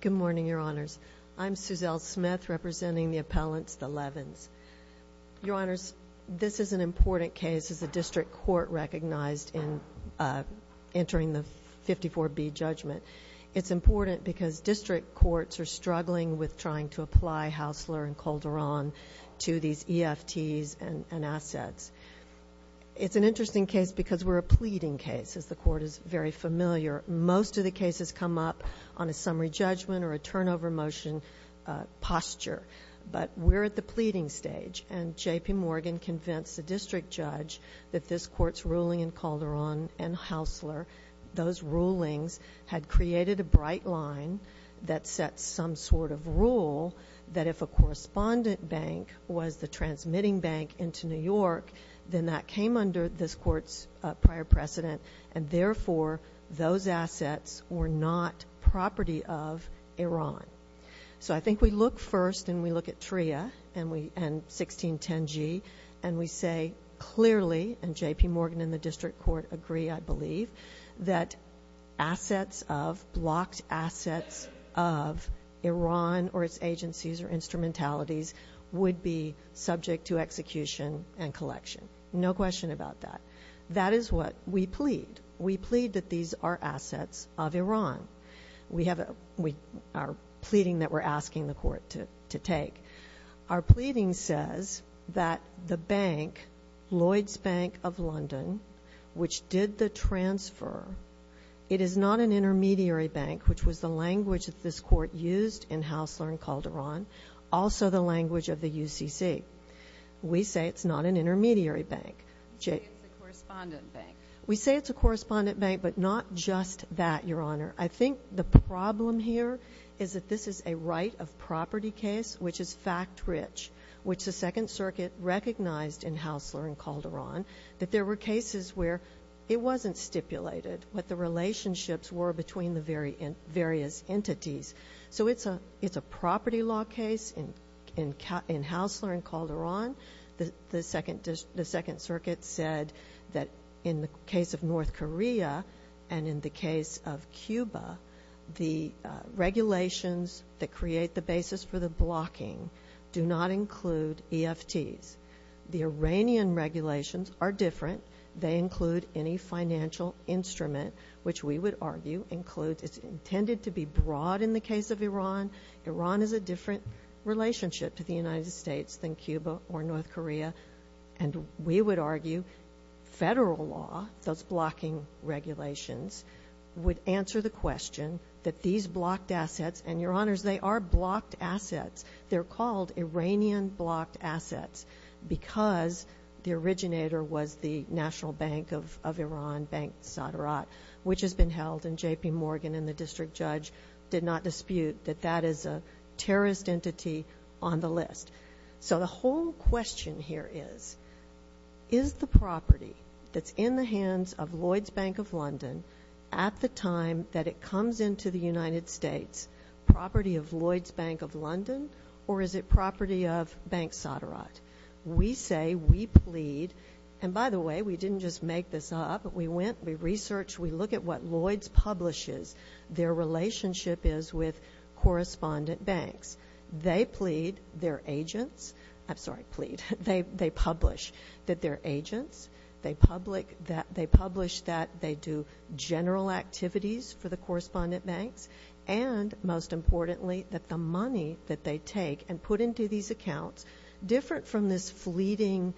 Good morning, Your Honors. I'm Suzelle Smith representing the appellants, the Levins. Your Honors, this is an important case as the district court recognized in entering the 54B judgment. It's important because district courts are struggling with trying to apply Haussler and Calderon to these EFTs and assets. It's an interesting case because we're a most of the cases come up on a summary judgment or a turnover motion posture. But we're at the pleading stage and J.P. Morgan convinced the district judge that this court's ruling in Calderon and Haussler, those rulings had created a bright line that set some sort of rule that if a correspondent bank was the transmitting bank into New York, then that assets were not property of Iran. So I think we look first and we look at TRIA and 1610G and we say clearly, and J.P. Morgan and the district court agree, I believe, that assets of, blocked assets of Iran or its agencies or instrumentalities would be subject to execution and collection. No question about that. That is what we plead. We plead that these are assets of Iran. We have a, we are pleading that we're asking the court to take. Our pleading says that the bank, Lloyds Bank of London, which did the transfer, it is not an intermediary bank, which was the language that this court used in Haussler and Calderon, also the language of the UCC. We say it's not an intermediary bank. You say it's a correspondent bank. We say it's a correspondent bank, but not just that, Your Honor. I think the problem here is that this is a right of property case, which is fact rich, which the Second Circuit recognized in Haussler and Calderon, that there were cases where it wasn't stipulated what the relationships were between the various entities. So it's a, it's a property law case in Haussler and Calderon. The Second Circuit said that in the case of North Korea and in the case of Cuba, the regulations that create the basis for the blocking do not include EFTs. The Iranian regulations are different. They include any financial instrument, which we would argue includes, it's intended to be broad in the case of Iran. Iran is a different relationship to the United States than Cuba or North Korea, and we would argue federal law, those blocking regulations, would answer the question that these blocked assets, and Your Honors, they are blocked assets. They're called Iranian blocked assets because the originator was the National Bank of Iran, Bank Sadrat, which has been held, and J.P. on the list. So the whole question here is, is the property that's in the hands of Lloyds Bank of London at the time that it comes into the United States property of Lloyds Bank of London, or is it property of Bank Sadrat? We say, we plead, and by the way, we didn't just make this up. We went, we researched, we look at what Lloyds publishes, their relationship is with correspondent banks. They plead, their agents, I'm sorry, plead, they publish that they're agents, they publish that they do general activities for the correspondent banks, and most importantly, that the money that they take and put into these accounts, different from this fleeting,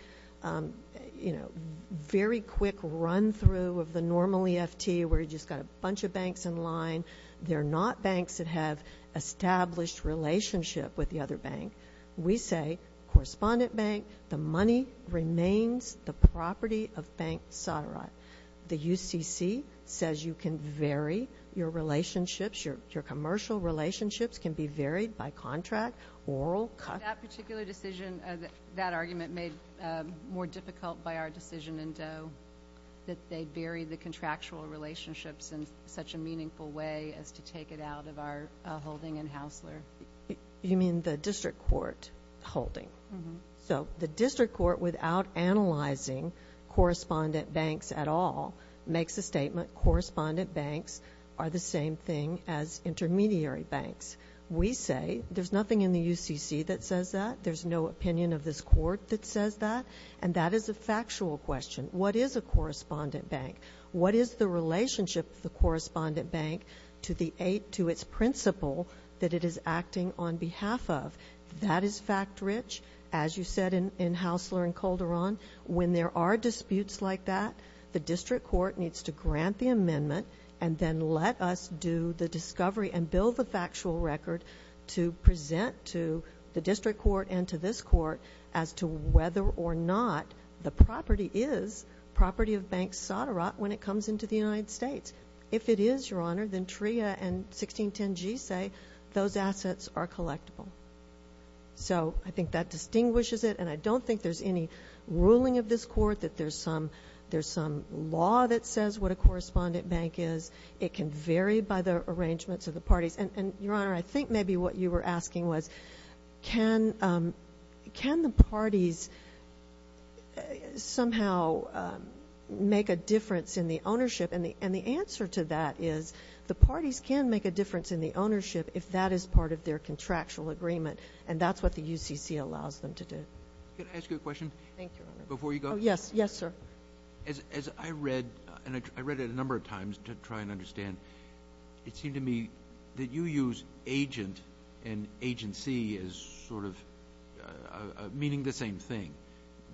you know, very quick run through of the normal EFT where you've just got a bunch of banks in line. They're not banks that have established relationship with the other bank. We say, correspondent bank, the money remains the property of Bank Sadrat. The UCC says you can vary your relationships, your commercial relationships can be varied by contract, oral, cut. That particular decision, that argument made more difficult by our decision in Doe, that they buried the contractual relationships in such a meaningful way as to take it out of our holding in Haussler. You mean the district court holding. So the district court, without analyzing correspondent banks at all, makes a statement, correspondent banks are the same thing as intermediary banks. We say, there's nothing in the UCC that says that, there's no opinion of this court that is the relationship of the correspondent bank to its principle that it is acting on behalf of. That is fact rich, as you said in Haussler and Calderon. When there are disputes like that, the district court needs to grant the amendment and then let us do the discovery and build the factual record to present to the district court and to this court as to whether or not the property is property of Bank Sadrat when it comes into the United States. If it is, Your Honor, then TRIA and 1610G say those assets are collectible. So I think that distinguishes it and I don't think there's any ruling of this court that there's some law that says what a correspondent bank is. It can vary by the arrangements of the parties. Your Honor, I think maybe what you were asking was, can the parties somehow make a difference in the ownership? The answer to that is, the parties can make a difference in the ownership if that is part of their contractual agreement and that's what the UCC allows them to do. Can I ask you a question? Before you go? Yes, sir. As I read, and I read it a number of times to try and understand, it seemed to me that you use agent and agency as sort of meaning the same thing.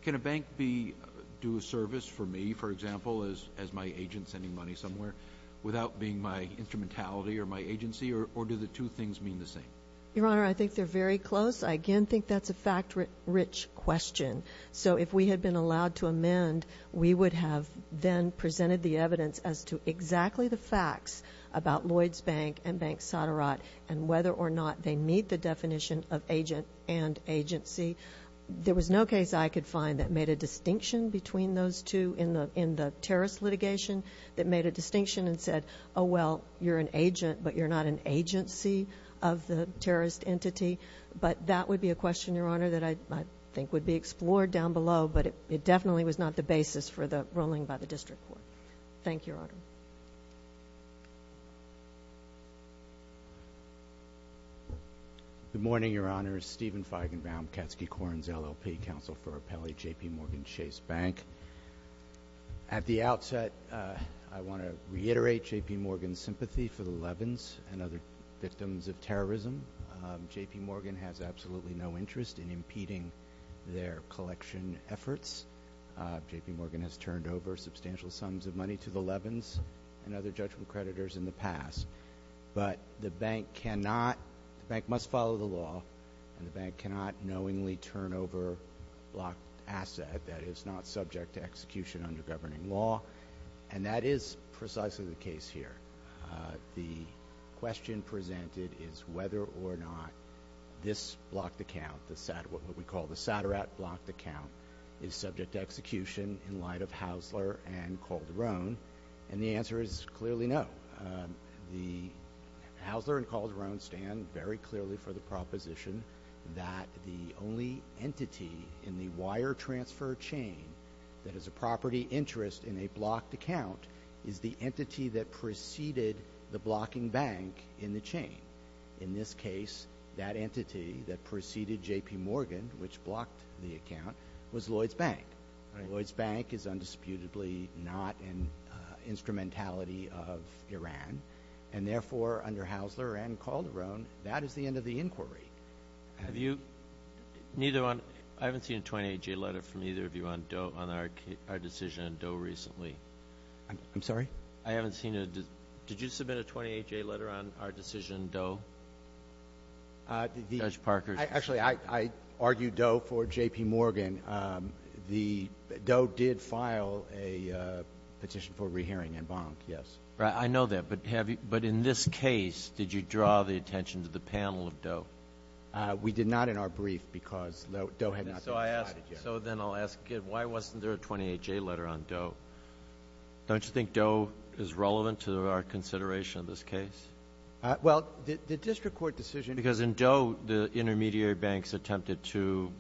Can a bank do a service for me, for example, as my agent sending money somewhere without being my instrumentality or my agency or do the two things mean the same? Your Honor, I think they're very close. I again think that's a fact-rich question. So if we had been allowed to amend, we would have then presented the evidence as to exactly the facts about Lloyds Bank and Bank Soderot and whether or not they meet the definition of agent and agency. There was no case I could find that made a distinction between those two in the terrorist litigation that made a distinction and said, oh well, you're an agent but you're not an agent. That would be a question, Your Honor, that I think would be explored down below but it definitely was not the basis for the ruling by the District Court. Thank you, Your Honor. Good morning, Your Honor. Stephen Feigenbaum, Katsky-Corins, LLP, Counsel for Appellee, J.P. Morgan Chase Bank. At the outset, I want to reiterate J.P. Morgan's sympathy for the Levins and other victims of terrorism. J.P. Morgan has absolutely no interest in impeding their collection efforts. J.P. Morgan has turned over substantial sums of money to the Levins and other judgment creditors in the past. But the bank cannot, the bank must follow the law and the bank cannot knowingly turn over a blocked asset that is not subject to execution under governing law. And that is precisely the case here. The question presented is whether or not this blocked account, what we call the SATARAT blocked account, is subject to execution in light of Haussler and Calderon and the answer is clearly no. The Haussler and Calderon stand very clearly for the proposition that the only entity in the wire transfer chain that has a property interest in a blocked account is the entity that preceded the blocking bank in the chain. In this case, that entity that preceded J.P. Morgan, which blocked the account, was Lloyd's Bank. Lloyd's Bank is undisputedly not an instrumentality of Iran and therefore under Haussler and Calderon that is the end of the inquiry. Have you, neither one, I haven't seen a 28-J letter from either of you on our decision on Doe recently. I'm sorry? I haven't seen it. Did you submit a 28-J letter on our decision Doe, Judge Parker? Actually, I argued Doe for J.P. Morgan. Doe did file a petition for rehearing in Bonk, yes. I know that, but in this case, did you draw the attention to the panel of Doe? We did not in our brief because Doe had not been decided yet. So then I'll ask again, why wasn't there a 28-J letter on Doe? Don't you think Doe is relevant to our consideration of this case? Well, the district court decision— Because in Doe, the intermediary banks attempted to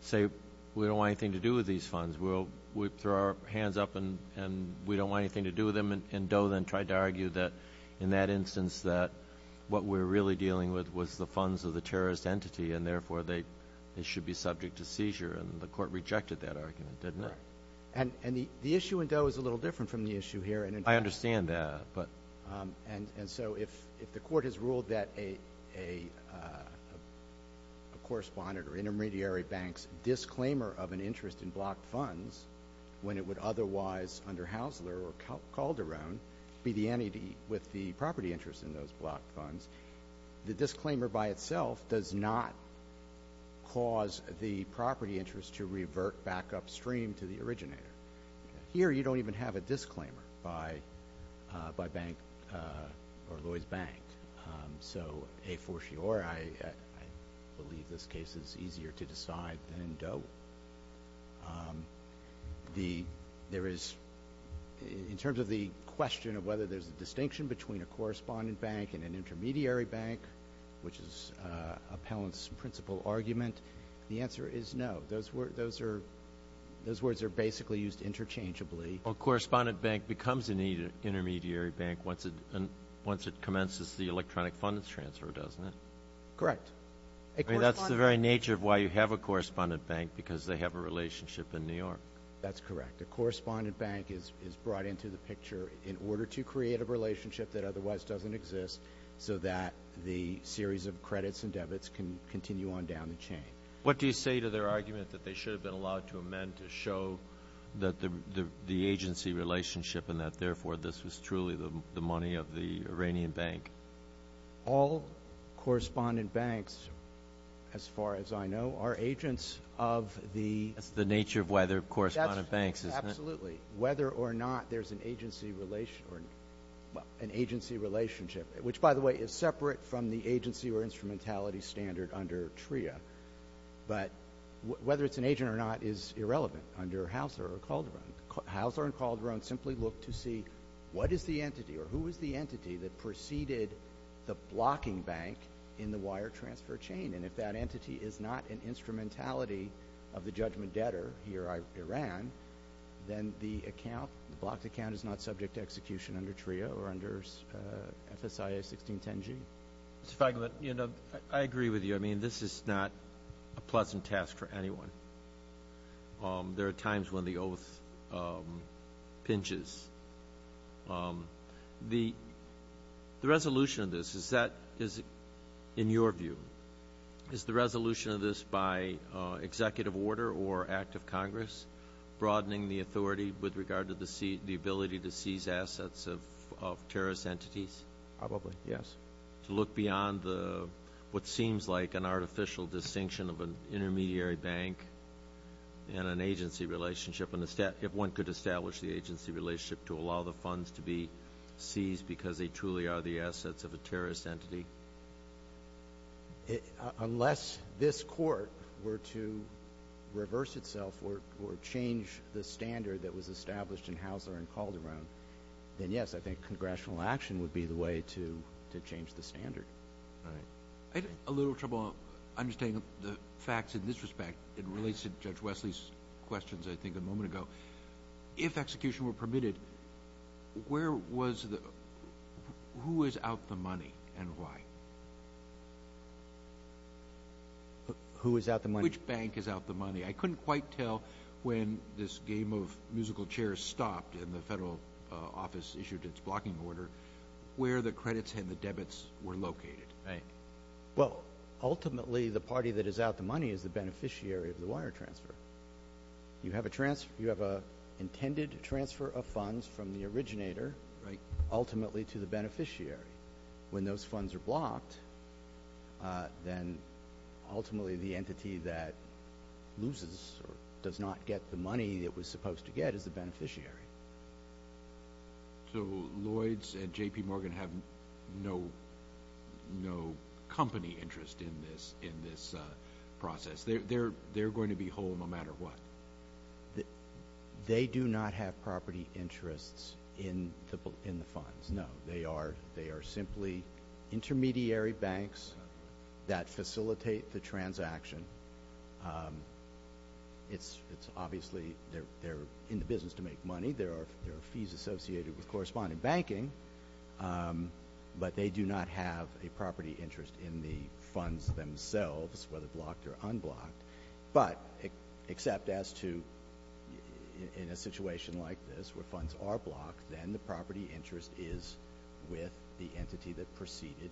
say, we don't want anything to do with these funds. We'll throw our hands up and we don't want anything to do with them. And Doe then tried to argue that in that instance that what we're really dealing with was the funds of the terrorist entity and therefore they should be subject to seizure. And the court rejected that argument, didn't it? Correct. And the issue in Doe is a little different from the issue here. I understand that, but— And so if the court has ruled that a correspondent or intermediary bank's disclaimer of an interest in blocked funds, when it would otherwise, under Haussler or Calderon, be the entity with the property interest in those blocked funds, the disclaimer by itself does not cause the property interest to revert back upstream to the originator. Here you don't even have a disclaimer by bank or Lloyd's Bank. So a fortiori, I believe this case is easier to decide than in Doe. There is, in terms of the question of whether there's a distinction between a correspondent bank and an intermediary bank, which is Appellant's principal argument, the answer is no. Those words are basically used interchangeably. A correspondent bank becomes an intermediary bank once it commences the electronic funds transfer, doesn't it? Correct. I mean, that's the very nature of why you have a correspondent bank, because they have a relationship in New York. That's correct. A correspondent bank is brought into the picture in order to create a relationship that otherwise doesn't exist so that the series of credits and debits can continue on down the chain. What do you say to their argument that they should have been allowed to amend to show that the agency relationship and that, therefore, this was truly the money of the Iranian bank? All correspondent banks, as far as I know, are agents of the— That's the nature of why there are correspondent banks, isn't it? Absolutely. Whether or not there's an agency relationship, which, by the way, is separate from the agency or instrumentality standard under TRIA, but whether it's an agent or not is irrelevant under Haussler or Calderon. Haussler and Calderon simply look to see what is the entity or who is the entity that preceded the blocking bank in the wire transfer chain, and if that entity is not an instrumentality of the judgment debtor, he or I, Iran, then the account, the blocked account, is not subject to execution under TRIA or under FSIA 1610G. Mr. Feigin, I agree with you. This is not a pleasant task for anyone. There are times when the oath pinches. The resolution of this, is that, in your view, is the resolution of this by executive order or act of Congress broadening the authority with regard to the ability to seize assets of terrorist entities? Probably, yes. To look beyond what seems like an artificial distinction of an intermediary bank and an agency relationship to allow the funds to be seized because they truly are the assets of a terrorist entity? Unless this Court were to reverse itself or change the standard that was established in Haussler and Calderon, then yes, I think congressional action would be the way to change the standard. I had a little trouble understanding the facts in this respect. It relates to Judge Wesley's questions, I think, a moment ago. If execution were permitted, who is out the money and why? Who is out the money? Which bank is out the money? I couldn't quite tell when this game of musical chairs stopped and the federal office issued its blocking order, where the credits and the debits were located. Ultimately, the party that is out the money is the beneficiary of the wire transfer. You have an intended transfer of funds from the originator ultimately to the beneficiary. When those funds are blocked, then ultimately the entity that loses or does not get the money it was supposed to get is the beneficiary. So, Lloyds and J.P. Morgan have no company interest in this process? They're going to be whole no matter what? They do not have property interests in the funds, no. They are simply intermediary banks that facilitate the transaction. It's obviously, they're in the business to make money. There are fees associated with correspondent banking, but they do not have a property interest in the funds themselves, whether blocked or unblocked. But except as to, in a situation like this, where funds are blocked, then the property interest is with the entity that preceded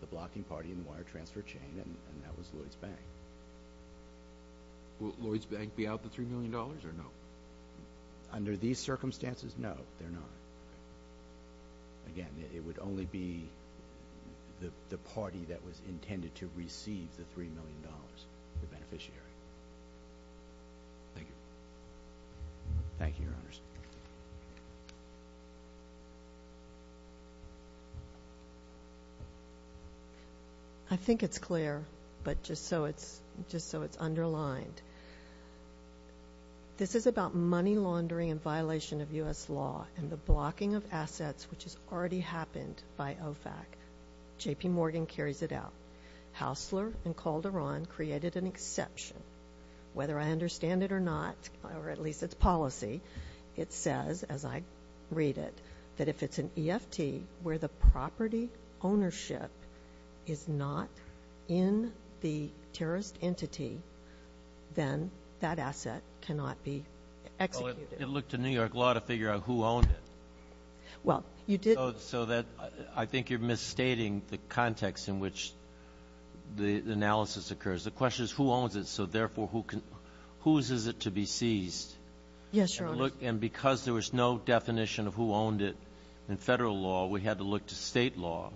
the blocking party in the wire transfer chain, and that was Lloyds Bank. Will Lloyds Bank be out the $3 million or no? Under these circumstances, no, they're not. Again, it would only be the party that was intended to receive the $3 million, the beneficiary. Thank you. Thank you, Your Honors. I think it's clear, but just so it's underlined. This is about money laundering and violation of U.S. law and the blocking of assets which has already happened by OFAC. J.P. Morgan carries it out. Haussler and Calderon created an exception. Whether I understand it or not, or at least it's policy, it says, as I read it, that if it's an EFT where the property ownership is not in the terrorist entity, then that asset cannot be executed. Well, it looked to New York law to figure out who owned it. So I think you're misstating the context in which the analysis occurs. The question is who owns it, so therefore, whose is it to be seized? Yes, Your Honor. And because there was no definition of who owned it in federal law, we had to look to state law.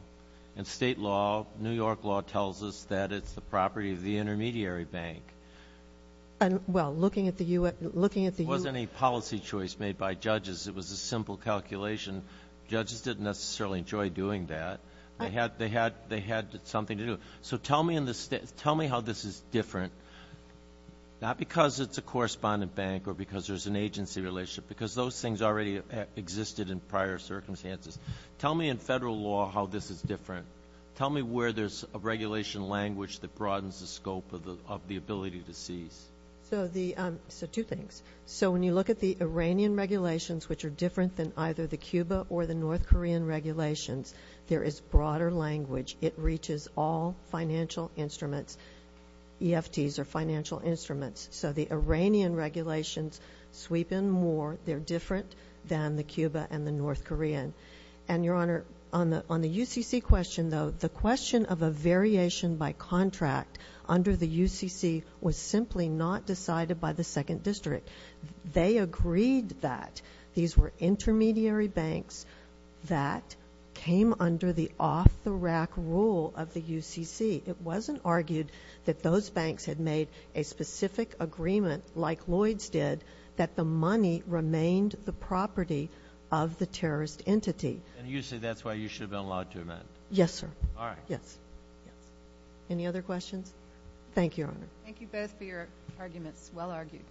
And state law, New York law, tells us that it's the property of the intermediary bank. Well, looking at the U.S. It wasn't a policy choice made by judges. It was a simple calculation. Judges didn't necessarily enjoy doing that. They had something to do. So tell me how this is different, not because it's a correspondent bank or because there's an agency relationship, because those things already existed in prior circumstances. Tell me in federal law how this is different. Tell me where there's a regulation language that broadens the scope of the ability to seize. So two things. So when you look at the Iranian regulations, which are different than either the Cuba or the North Korean financial instruments, EFTs are financial instruments. So the Iranian regulations sweep in more. They're different than the Cuba and the North Korean. And Your Honor, on the UCC question, though, the question of a variation by contract under the UCC was simply not decided by the Second District. They agreed that these were intermediary banks that came under the off-the-rack rule of the UCC. It wasn't argued that those banks had made a specific agreement, like Lloyd's did, that the money remained the property of the terrorist entity. And you say that's why you should have been allowed to amend? Yes, sir. All right. Yes. Any other questions? Thank you, Your Honor. Thank you both for your arguments. Well argued.